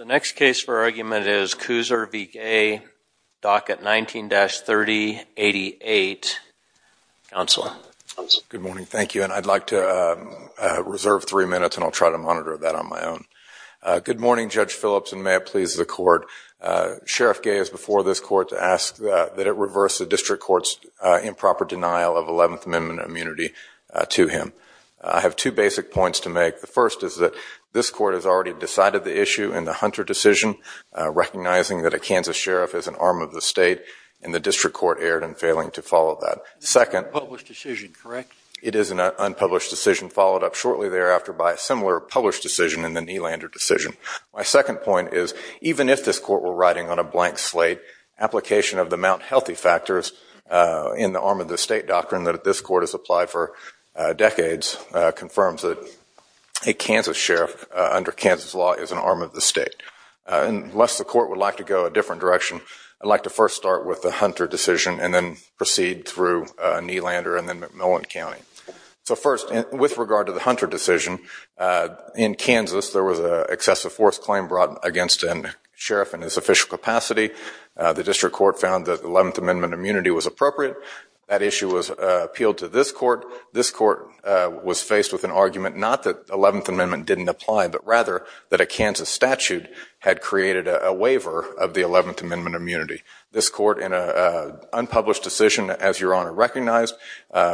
Docket 19-3088. Counsel. Good morning. Thank you. And I'd like to reserve three minutes and I'll try to monitor that on my own. Good morning, Judge Phillips, and may it please the Court. Sheriff Gay has before this Court to ask that it reverse the district court's improper denial of 11th Amendment immunity to him. I have two basic points to make. The first is that this Court has already dismissed the 11th Amendment. It decided the issue in the Hunter decision, recognizing that a Kansas sheriff is an arm of the state, and the district court erred in failing to follow that. It's an unpublished decision, correct? It is an unpublished decision, followed up shortly thereafter by a similar published decision in the Nelander decision. My second point is, even if this Court were riding on a blank slate, application of the Mount Healthy factors in the arm of the state doctrine that this Court has applied for decades confirms that a Kansas sheriff under Kansas law is an arm of the state. Unless the Court would like to go a different direction, I'd like to first start with the Hunter decision and then proceed through Nelander and then McMillan County. So first, with regard to the Hunter decision, in Kansas there was an excessive force claim brought against a sheriff in his official capacity. The district court found that the 11th Amendment immunity was appropriate. That issue was appealed to this Court. This Court was faced with an argument not that the 11th Amendment didn't apply, but rather that a Kansas statute had created a waiver of the 11th Amendment immunity. This Court, in an unpublished decision, as Your Honor recognized,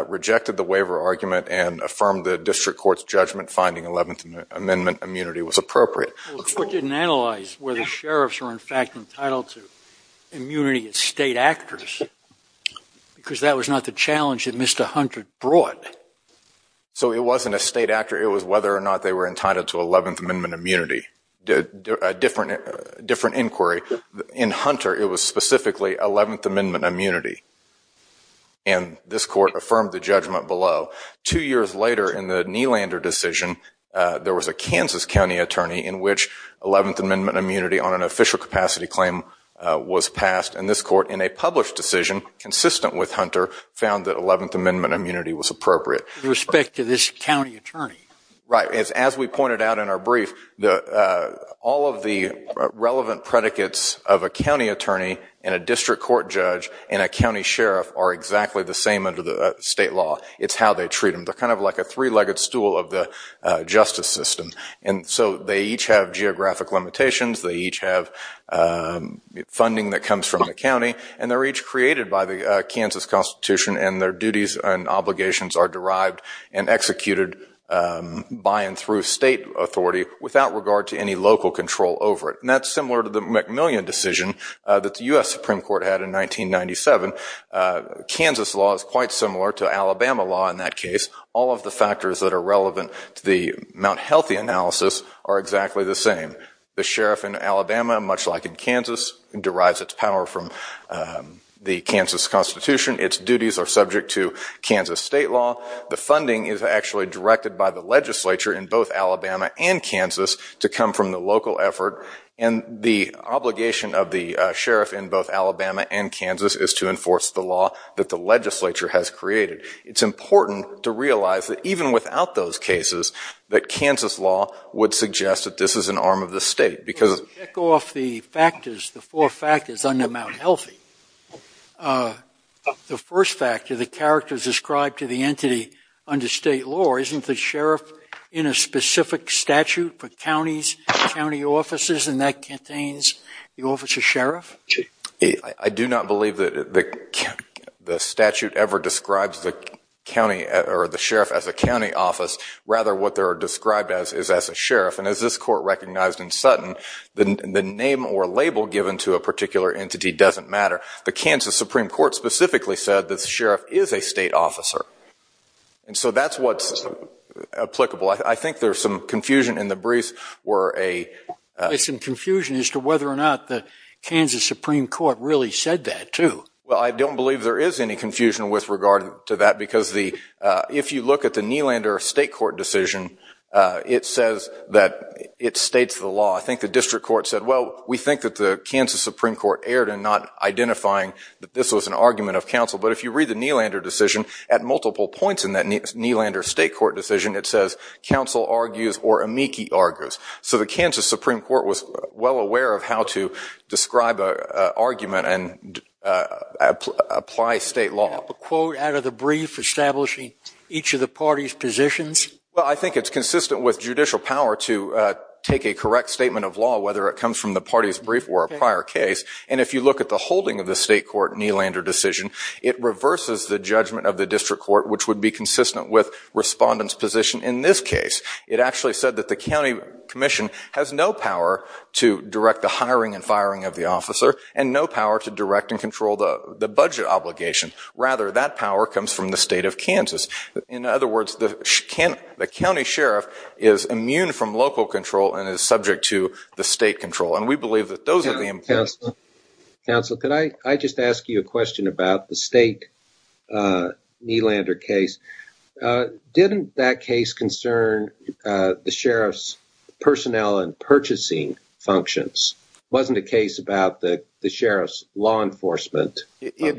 rejected the waiver argument and affirmed the district court's judgment, finding 11th Amendment immunity was appropriate. The court didn't analyze whether sheriffs were in fact entitled to immunity as state actors, because that was not the challenge that Mr. Hunter brought. So it wasn't a state actor. It was whether or not they were entitled to 11th Amendment immunity. A different inquiry. In Hunter, it was specifically 11th Amendment immunity. And this Court affirmed the judgment below. Two years later, in the Nelander decision, there was a Kansas County attorney in which 11th Amendment immunity on an official capacity claim was passed. And this Court, in a published decision consistent with Hunter, found that 11th Amendment immunity was appropriate. With respect to this county attorney? Right. As we pointed out in our brief, all of the relevant predicates of a county attorney and a district court judge and a county sheriff are exactly the same under the state law. It's how they treat them. They're kind of like a three-legged stool of the justice system. And so they each have geographic limitations. They each have funding that comes from the county. And they're each created by the Kansas Constitution, and their duties and obligations are derived and executed by and through state authority without regard to any local control over it. And that's similar to the McMillian decision that the U.S. Supreme Court had in 1997. Kansas law is quite similar to Alabama law in that case. All of the factors that are relevant to the Mount Healthy analysis are exactly the same. The sheriff in Alabama, much like in Kansas, derives its power from the Kansas Constitution. Its duties are subject to Kansas state law. The funding is actually directed by the legislature in both Alabama and Kansas to come from the local effort. And the obligation of the sheriff in both Alabama and Kansas is to enforce the law that the legislature has created. It's important to realize that even without those cases, that Kansas law would suggest that this is an arm of the state. Let's check off the factors, the four factors under Mount Healthy. The first factor, the characters described to the entity under state law, isn't the sheriff in a specific statute for counties, county offices, and that contains the office of sheriff? I do not believe that the statute ever describes the sheriff as a county office. Rather, what they're described as is as a sheriff. And as this court recognized in Sutton, the name or label given to a particular entity doesn't matter. The Kansas Supreme Court specifically said that the sheriff is a state officer. And so that's what's applicable. I think there's some confusion in the briefs. There's some confusion as to whether or not the Kansas Supreme Court really said that, too. Well, I don't believe there is any confusion with regard to that because if you look at the Nylander state court decision, it states the law. I think the district court said, well, we think that the Kansas Supreme Court erred in not identifying that this was an argument of counsel. But if you read the Nylander decision, at multiple points in that Nylander state court decision, it says counsel argues or amici argues. So the Kansas Supreme Court was well aware of how to describe an argument and apply state law. Can you make up a quote out of the brief establishing each of the parties' positions? Well, I think it's consistent with judicial power to take a correct statement of law, whether it comes from the parties' brief or a prior case. And if you look at the holding of the state court Nylander decision, it reverses the judgment of the district court, which would be consistent with respondents' position in this case. It actually said that the county commission has no power to direct the hiring and firing of the officer and no power to direct and control the budget obligation. Rather, that power comes from the state of Kansas. In other words, the county sheriff is immune from local control and is subject to the state control. And we believe that those are the important things. Counsel, could I just ask you a question about the state Nylander case? Didn't that case concern the sheriff's personnel and purchasing functions? Wasn't the case about the sheriff's law enforcement? It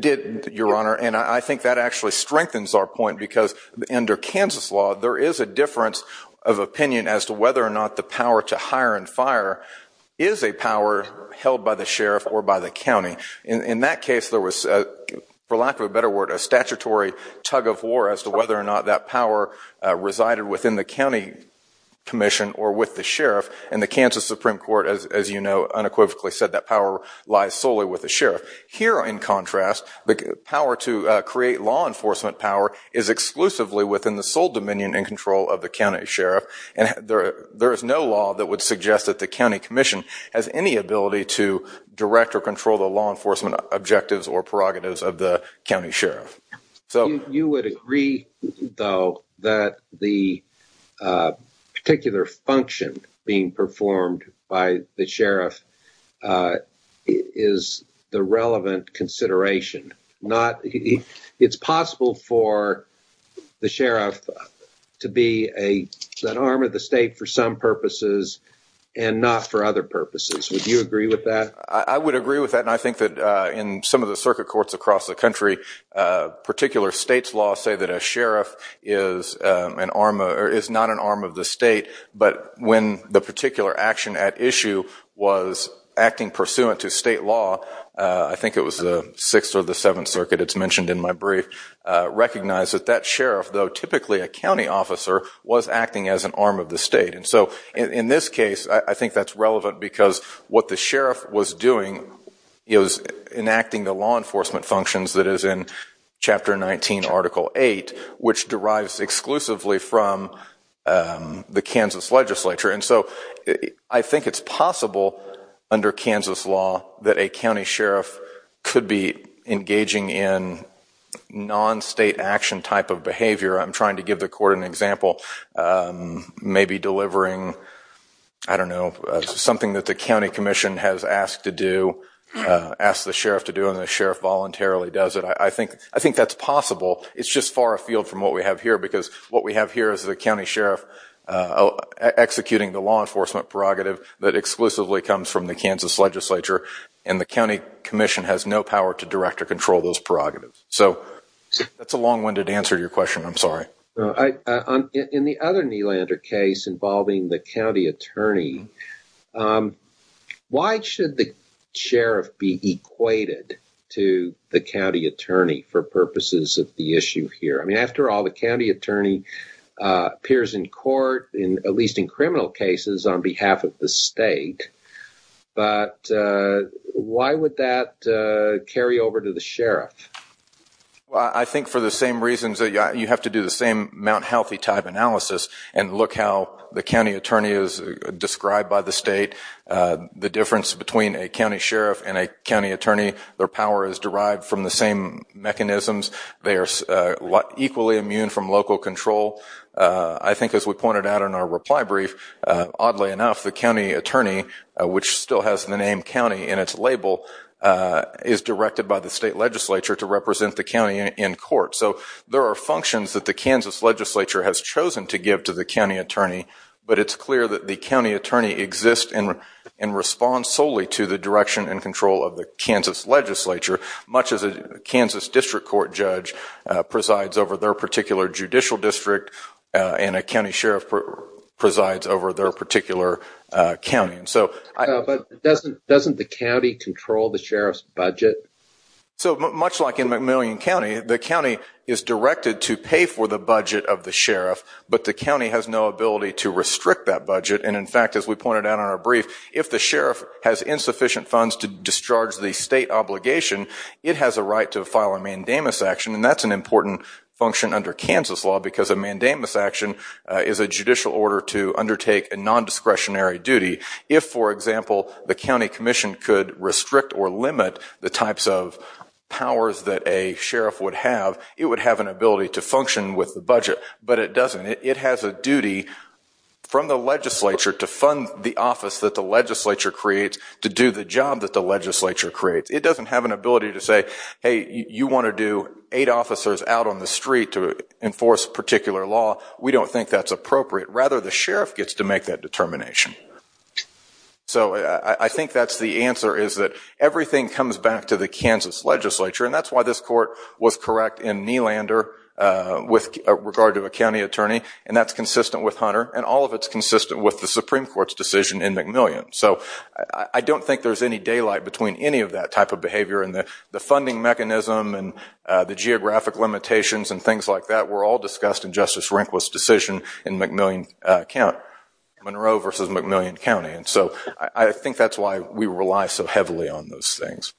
did, Your Honor, and I think that actually strengthens our point because under Kansas law, there is a difference of opinion as to whether or not the power to hire and fire is a power held by the sheriff or by the county. In that case, there was, for lack of a better word, a statutory tug-of-war as to whether or not that power resided within the county commission or with the sheriff. And the Kansas Supreme Court, as you know, unequivocally said that power lies solely with the sheriff. Here, in contrast, the power to create law enforcement power is exclusively within the sole dominion and control of the county sheriff. And there is no law that would suggest that the county commission has any ability to direct or control the law enforcement objectives or prerogatives of the county sheriff. You would agree, though, that the particular function being performed by the sheriff is the relevant consideration. It's possible for the sheriff to be an arm of the state for some purposes and not for other purposes. Would you agree with that? I would agree with that. And I think that in some of the circuit courts across the country, particular states' laws say that a sheriff is not an arm of the state. But when the particular action at issue was acting pursuant to state law, I think it was the Sixth or the Seventh Circuit, it's mentioned in my brief, recognized that that sheriff, though typically a county officer, was acting as an arm of the state. And so in this case, I think that's relevant because what the sheriff was doing was enacting the law enforcement functions that is in Chapter 19, Article 8, which derives exclusively from the Kansas legislature. And so I think it's possible under Kansas law that a county sheriff could be engaging in non-state action type of behavior. I'm trying to give the court an example, maybe delivering, I don't know, something that the county commission has asked to do, asked the sheriff to do, and the sheriff voluntarily does it. I think that's possible. It's just far afield from what we have here because what we have here is the county sheriff executing the law enforcement prerogative that exclusively comes from the Kansas legislature, and the county commission has no power to direct or control those prerogatives. So that's a long-winded answer to your question. I'm sorry. In the other Nylander case involving the county attorney, why should the sheriff be equated to the county attorney for purposes of the issue here? I mean, after all, the county attorney appears in court, at least in criminal cases, on behalf of the state. But why would that carry over to the sheriff? Well, I think for the same reasons that you have to do the same Mount Healthy type analysis and look how the county attorney is described by the state, the difference between a county sheriff and a county attorney, their power is derived from the same mechanisms. They are equally immune from local control. I think as we pointed out in our reply brief, oddly enough, the county attorney, which still has the name county in its label, is directed by the state legislature to represent the county in court. So there are functions that the Kansas legislature has chosen to give to the county attorney, but it's clear that the county attorney exists in response solely to the direction and control of the Kansas legislature, much as a Kansas district court judge presides over their particular judicial district and a county sheriff presides over their particular county. But doesn't the county control the sheriff's budget? So much like in McMillian County, the county is directed to pay for the budget of the sheriff, but the county has no ability to restrict that budget. And in fact, as we pointed out in our brief, if the sheriff has insufficient funds to discharge the state obligation, it has a right to file a mandamus action, and that's an important function under Kansas law because a mandamus action is a judicial order to undertake a nondiscretionary duty. If, for example, the county commission could restrict or limit the types of powers that a sheriff would have, it would have an ability to function with the budget, but it doesn't. It has a duty from the legislature to fund the office that the legislature creates, to do the job that the legislature creates. It doesn't have an ability to say, hey, you want to do eight officers out on the street to enforce a particular law. We don't think that's appropriate. Rather, the sheriff gets to make that determination. So I think that's the answer, is that everything comes back to the Kansas legislature, and that's why this court was correct in Nylander with regard to a county attorney, and that's consistent with Hunter, and all of it's consistent with the Supreme Court's decision in McMillian. So I don't think there's any daylight between any of that type of behavior, and the funding mechanism and the geographic limitations and things like that were all discussed in Justice Rehnquist's decision in Monroe versus McMillian County. So I think that's why we rely so heavily on those things.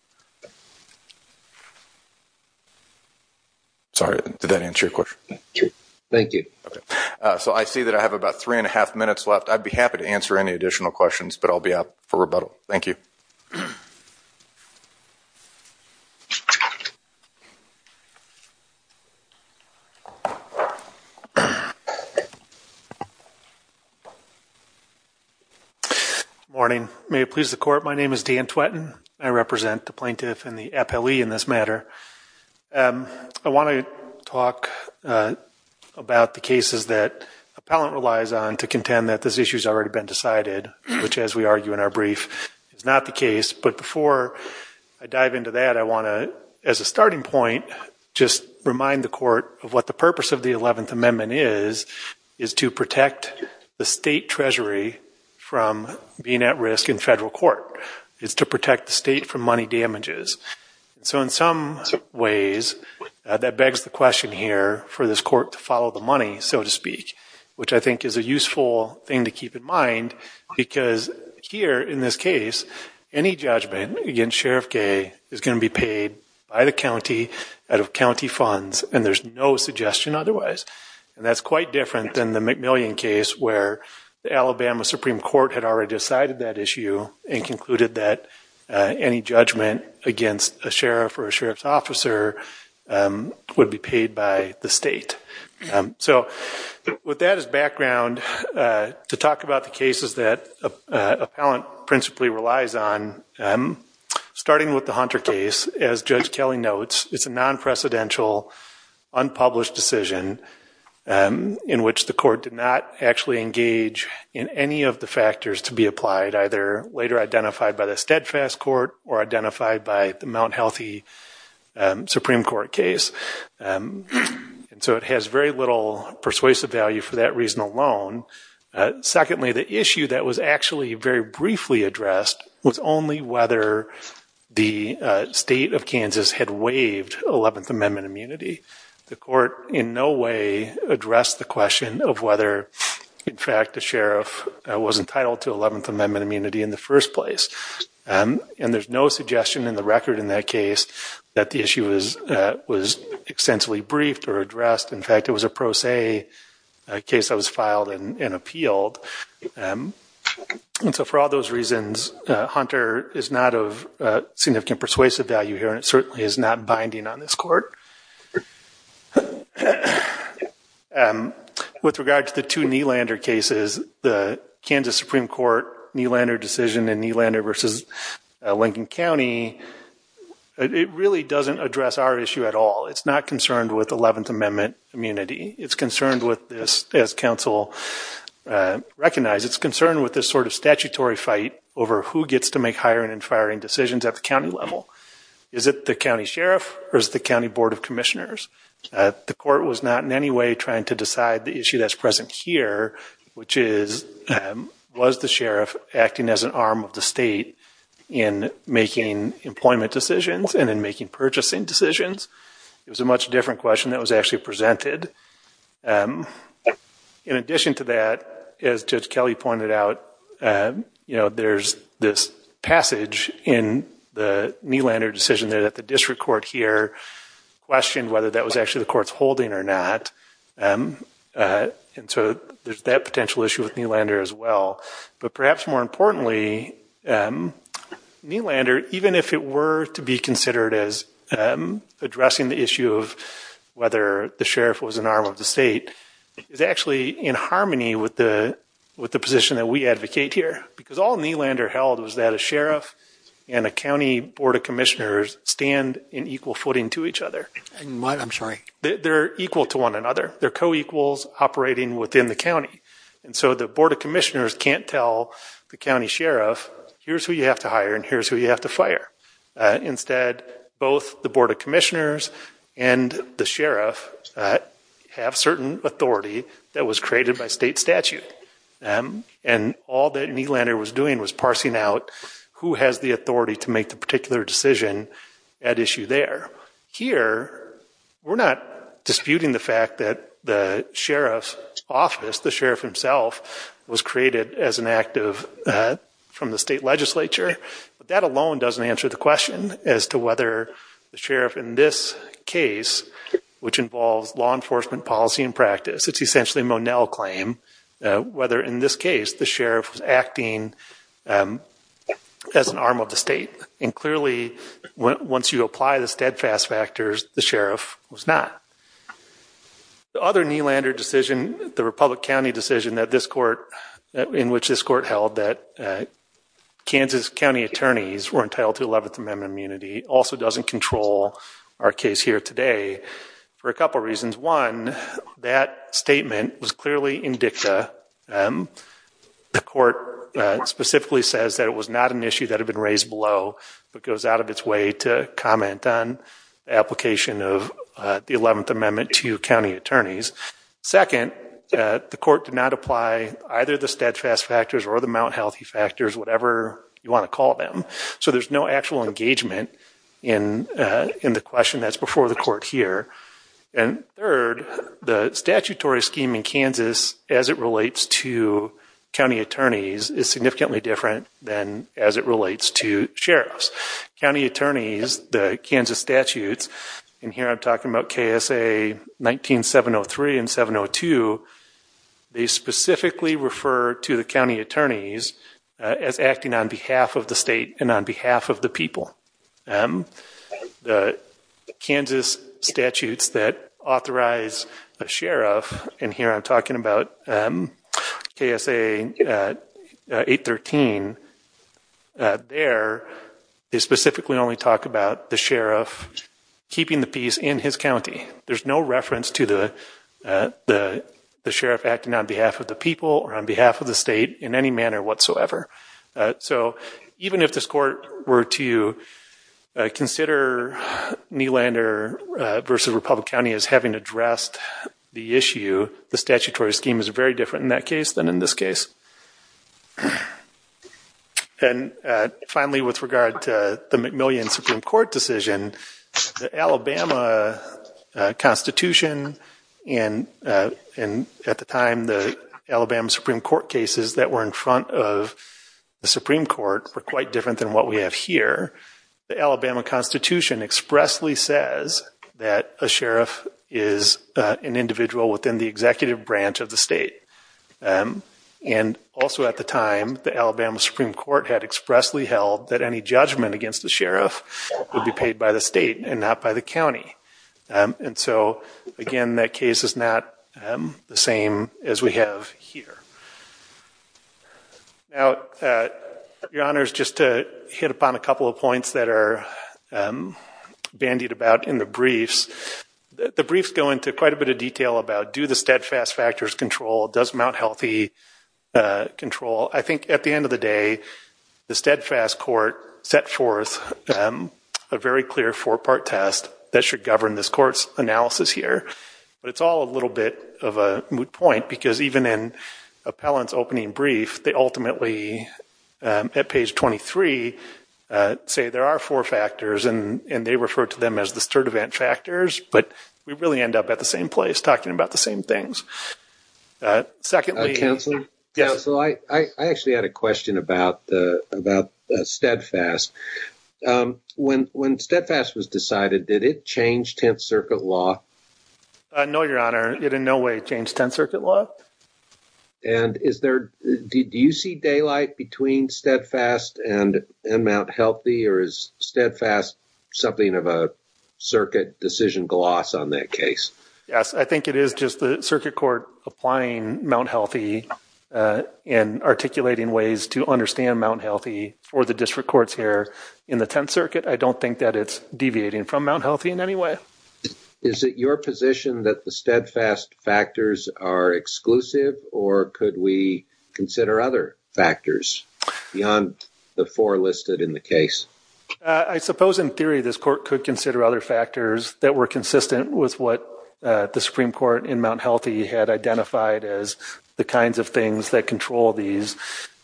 Sorry, did that answer your question? Thank you. Okay. So I see that I have about three and a half minutes left. I'd be happy to answer any additional questions, but I'll be out for rebuttal. Thank you. Good morning. May it please the Court, my name is Dan Twetten. I represent the plaintiff and the appellee in this matter. I want to talk about the cases that appellant relies on to contend that this issue has already been decided, which, as we argue in our brief, is not the case. But before I dive into that, I want to, as a starting point, just remind the Court of what the purpose of the 11th Amendment is, is to protect the state treasury from being at risk in federal court. It's to protect the state from money damages. So in some ways, that begs the question here for this Court to follow the money, so to speak, which I think is a useful thing to keep in mind because here, in this case, any judgment against Sheriff Gay is going to be paid by the county out of county funds, and there's no suggestion otherwise. And that's quite different than the McMillian case where the Alabama Supreme Court had already decided that issue and concluded that any judgment against a sheriff or a sheriff's officer would be paid by the state. So with that as background, to talk about the cases that appellant principally relies on, starting with the Hunter case, as Judge Kelly notes, it's a non-precedential, unpublished decision in which the court did not actually engage in any of the factors to be applied, either later identified by the steadfast court or identified by the Mount Healthy Supreme Court case. And so it has very little persuasive value for that reason alone. Secondly, the issue that was actually very briefly addressed was only whether the state of Kansas had waived 11th Amendment immunity. The court in no way addressed the question of whether, in fact, the sheriff was entitled to 11th Amendment immunity in the first place. And there's no suggestion in the record in that case that the issue was extensively briefed or addressed. In fact, it was a pro se case that was filed and appealed. And so for all those reasons, Hunter is not of significant persuasive value here and it certainly is not binding on this court. With regard to the two Nylander cases, the Kansas Supreme Court Nylander decision and Nylander versus Lincoln County, it really doesn't address our issue at all. It's not concerned with 11th Amendment immunity. It's concerned with this, as counsel recognized, it's concerned with this sort of statutory fight over who gets to make hiring and firing decisions at the county level. Is it the county sheriff or is it the county board of commissioners? The court was not in any way trying to decide the issue that's present here, which is was the sheriff acting as an arm of the state in making employment decisions and in making purchasing decisions? It was a much different question that was actually presented. In addition to that, as Judge Kelly pointed out, there's this passage in the Nylander decision that the district court here questioned whether that was actually the court's holding or not. And so there's that potential issue with Nylander as well. But perhaps more importantly, Nylander, even if it were to be considered as addressing the issue of whether the sheriff was an arm of the state, is actually in harmony with the position that we advocate here. Because all Nylander held was that a sheriff and a county board of commissioners stand in equal footing to each other. They're equal to one another. They're co-equals operating within the county. And so the board of commissioners can't tell the county sheriff, here's who you have to hire and here's who you have to fire. Instead, both the board of commissioners and the sheriff have certain authority that was created by state statute. And all that Nylander was doing was parsing out who has the authority to make the particular decision at issue there. Here, we're not disputing the fact that the sheriff's office, the sheriff himself, was created as an act from the state legislature. But that alone doesn't answer the question as to whether the sheriff in this case, which involves law enforcement policy and practice, it's essentially a Monell claim, whether in this case the sheriff was acting as an arm of the state. And clearly, once you apply the steadfast factors, the sheriff was not. The other Nylander decision, the Republic County decision that this court, in which this court held that Kansas County attorneys were entitled to 11th Amendment immunity, also doesn't control our case here today for a couple reasons. One, that statement was clearly indicta. The court specifically says that it was not an issue that had been raised below, but goes out of its way to comment on application of the 11th Amendment to county attorneys. Second, the court did not apply either the steadfast factors or the Mount Healthy factors, whatever you want to call them. So there's no actual engagement in the question that's before the court here. And third, the statutory scheme in Kansas, as it relates to county attorneys, is significantly different than as it relates to sheriffs. County attorneys, the Kansas statutes, and here I'm talking about KSA 19703 and 702, they specifically refer to the county attorneys as acting on behalf of the state and on behalf of the people. The Kansas statutes that authorize a sheriff, and here I'm talking about KSA 813, there they specifically only talk about the sheriff keeping the peace in his county. There's no reference to the sheriff acting on behalf of the people or on behalf of the state in any manner whatsoever. So even if this court were to consider Nelander v. Republic County as having addressed the issue, the statutory scheme is very different in that case than in this case. And finally, with regard to the McMillian Supreme Court decision, the Alabama Constitution and at the time the Alabama Supreme Court cases that were in front of the Supreme Court were quite different than what we have here. The Alabama Constitution expressly says that a sheriff is an individual within the executive branch of the state. And also at the time, the Alabama Supreme Court had expressly held that any judgment against the sheriff would be paid by the state and not by the county. And so again, that case is not the same as we have here. Now, Your Honor, just to hit upon a couple of points that are bandied about in the briefs, the briefs go into quite a bit of detail about do the steadfast factors control, does Mount Healthy control. I think at the end of the day, the steadfast court set forth a very clear four-part test that should govern this court's analysis here. But it's all a little bit of a moot point because even in appellant's opening brief, they ultimately at page 23 say there are four factors and they refer to them as the Sturdivant factors. But we really end up at the same place talking about the same things. Secondly. Counselor? Yes. So I actually had a question about the steadfast. When steadfast was decided, did it change 10th Circuit law? No, Your Honor. It in no way changed 10th Circuit law. And do you see daylight between steadfast and Mount Healthy, or is steadfast something of a circuit decision gloss on that case? Yes. I think it is just the circuit court applying Mount Healthy and articulating ways to understand Mount Healthy for the district courts here in the 10th Circuit. I don't think that it's deviating from Mount Healthy in any way. Is it your position that the steadfast factors are exclusive, or could we consider other factors beyond the four listed in the case? I suppose in theory this court could consider other factors that were consistent with what the Supreme Court in Mount Healthy had identified as the kinds of things that control these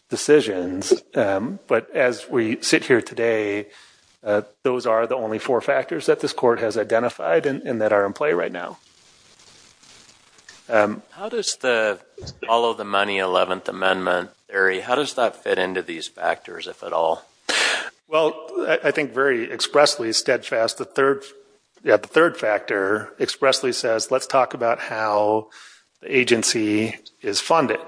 decisions. But as we sit here today, those are the only four factors that this court has identified and that are in play right now. How does the follow the money 11th Amendment theory, how does that fit into these factors if at all? Well, I think very expressly steadfast, the third factor expressly says let's talk about how the agency is funded.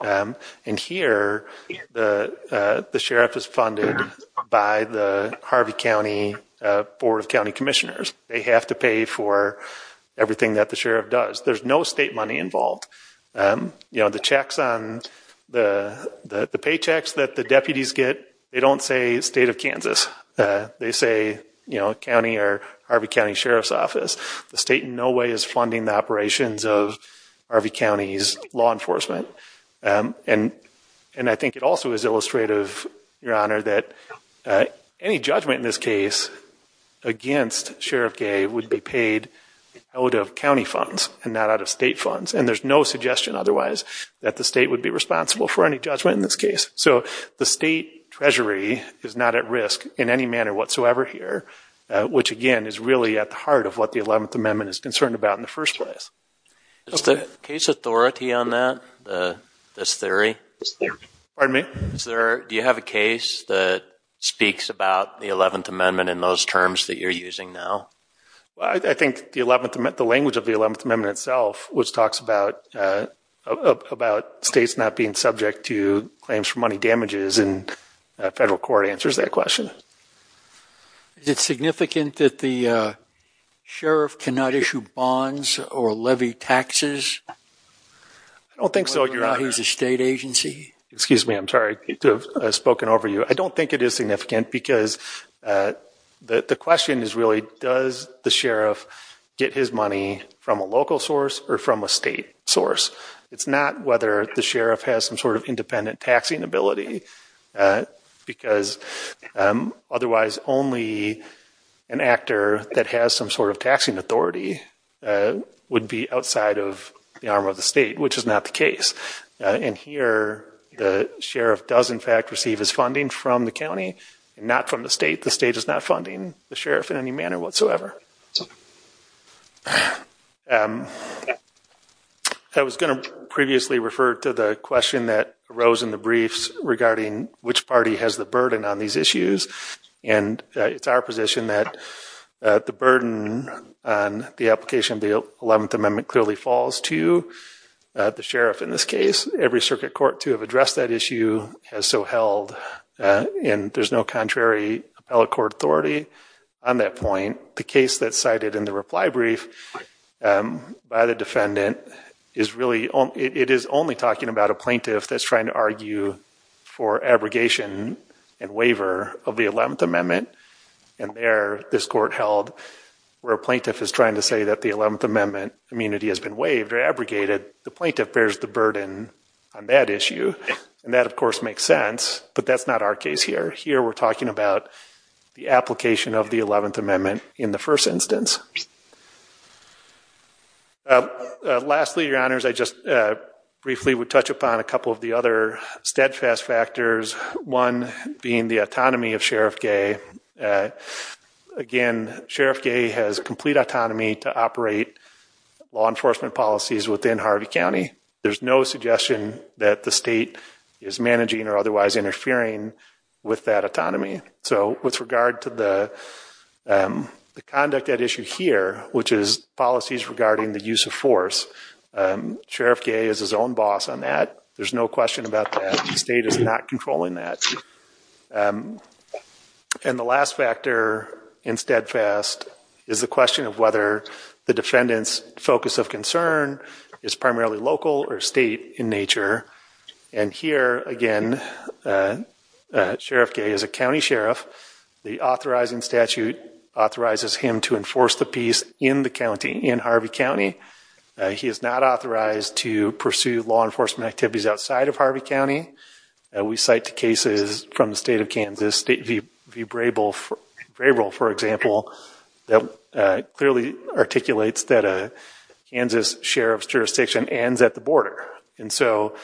And here the sheriff is funded by the Harvey County Board of County Commissioners. They have to pay for everything that the sheriff does. There's no state money involved. The checks on the paychecks that the deputies get, they don't say state of Kansas. They say county or Harvey County Sheriff's Office. The state in no way is funding the operations of Harvey County's law enforcement. And I think it also is illustrative, Your Honor, that any judgment in this case against Sheriff Gave would be paid out of county funds and not out of state funds. And there's no suggestion otherwise that the state would be responsible for any judgment in this case. So the state treasury is not at risk in any manner whatsoever here, which again is really at the heart of what the 11th Amendment is concerned about in the first place. Is there case authority on that, this theory? Pardon me? Do you have a case that speaks about the 11th Amendment in those terms that you're using now? I think the language of the 11th Amendment itself, which talks about states not being subject to claims for money damages, and federal court answers that question. Is it significant that the sheriff cannot issue bonds or levy taxes? I don't think so, Your Honor. Whether or not he's a state agency? Excuse me. I'm sorry to have spoken over you. I don't think it is significant because the question is really, does the sheriff get his money from a local source or from a state source? It's not whether the sheriff has some sort of independent taxing ability, because otherwise only an actor that has some sort of taxing authority would be outside of the arm of the state, which is not the case. And here the sheriff does in fact receive his funding from the county and not from the state. The state is not funding the sheriff in any manner whatsoever. I was going to previously refer to the question that arose in the briefs regarding which party has the burden on these issues, and it's our position that the burden on the application of the 11th Amendment clearly falls to the sheriff in this case. Every circuit court to have addressed that issue has so held, and there's no contrary appellate court authority on that point. The case that's cited in the reply brief by the defendant, it is only talking about a plaintiff that's trying to argue for abrogation and waiver of the 11th Amendment, and there this court held where a plaintiff is trying to say that the 11th Amendment immunity has been waived or abrogated. The plaintiff bears the burden on that issue, and that of course makes sense, but that's not our case here. Here we're talking about the application of the 11th Amendment in the first instance. Lastly, Your Honors, I just briefly would touch upon a couple of the other steadfast factors, one being the autonomy of Sheriff Gay. Again, Sheriff Gay has complete autonomy to operate law enforcement policies within Harvey County. There's no suggestion that the state is managing or otherwise interfering with that autonomy. So with regard to the conduct at issue here, which is policies regarding the use of force, Sheriff Gay is his own boss on that. There's no question about that. The state is not controlling that. And the last factor in steadfast is the question of whether the defendant's focus of concern is primarily local or state in nature. And here again, Sheriff Gay is a county sheriff. The authorizing statute authorizes him to enforce the peace in the county, in Harvey County. He is not authorized to pursue law enforcement activities outside of Harvey County. We cite cases from the state of Kansas, State v. Braybill, for example, that clearly articulates that a Kansas sheriff's jurisdiction ends at the border. And so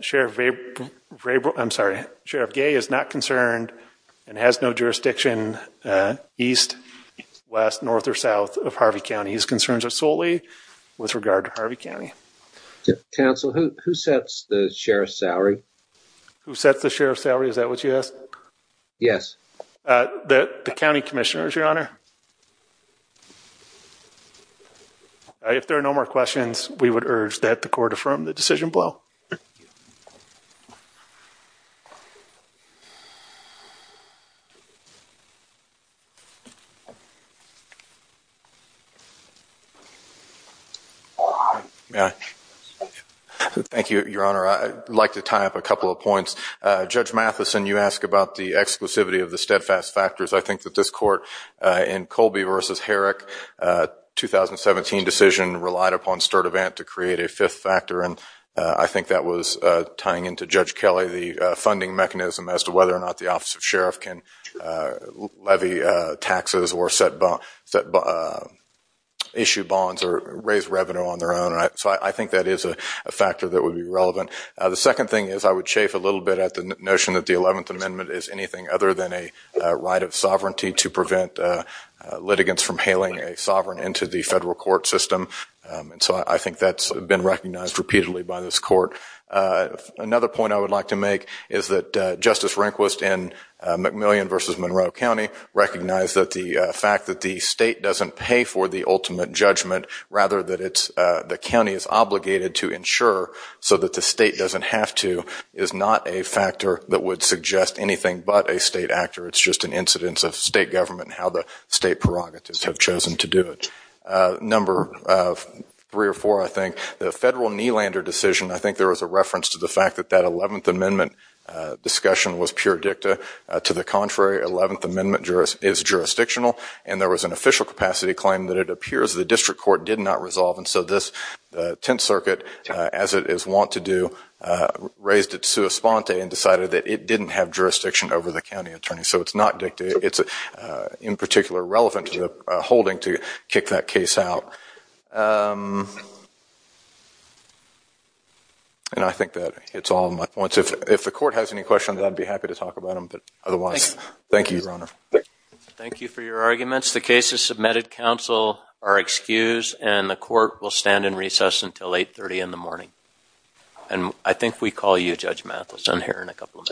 Sheriff Gay is not concerned and has no jurisdiction east, west, north, or south of Harvey County. His concerns are solely with regard to Harvey County. Counsel, who sets the sheriff's salary? Who sets the sheriff's salary? Is that what you asked? Yes. The county commissioner, Your Honor. If there are no more questions, we would urge that the court affirm the decision below. Thank you. Thank you, Your Honor. I'd like to tie up a couple of points. Judge Matheson, you asked about the exclusivity of the steadfast factors. I think that this court in Colby v. Herrick, 2017 decision relied upon Sturdivant to create a fifth factor. And I think that was tying into Judge Kelly the funding mechanism as to whether or not the office of sheriff can levy taxes or issue bonds or raise revenue on their own. So I think that is a factor that would be relevant. The second thing is I would chafe a little bit at the notion that the 11th Amendment is anything other than a right of sovereignty to prevent litigants from hailing a sovereign into the federal court system. And so I think that's been recognized repeatedly by this court. Another point I would like to make is that Justice Rehnquist in McMillian v. Monroe County recognized that the fact that the state doesn't pay for the ultimate judgment, rather that the county is obligated to ensure so that the state doesn't have to, is not a factor that would suggest anything but a state actor. It's just an incidence of state government and how the state prerogatives have chosen to do it. Number three or four, I think, the federal knee-lander decision, I think there was a reference to the fact that that 11th Amendment discussion was pure dicta. To the contrary, 11th Amendment is jurisdictional, and there was an official capacity claim that it appears the district court did not resolve. And so this Tenth Circuit, as it is wont to do, raised it sua sponte and decided that it didn't have jurisdiction over the county attorney. So it's not dicta. It's in particular relevant to the holding to kick that case out. And I think that hits all of my points. If the court has any questions, I'd be happy to talk about them. But otherwise, thank you, Your Honor. Thank you for your arguments. The case is submitted. Counsel are excused. And the court will stand in recess until 830 in the morning. And I think we call you, Judge Mathison, here in a couple of minutes.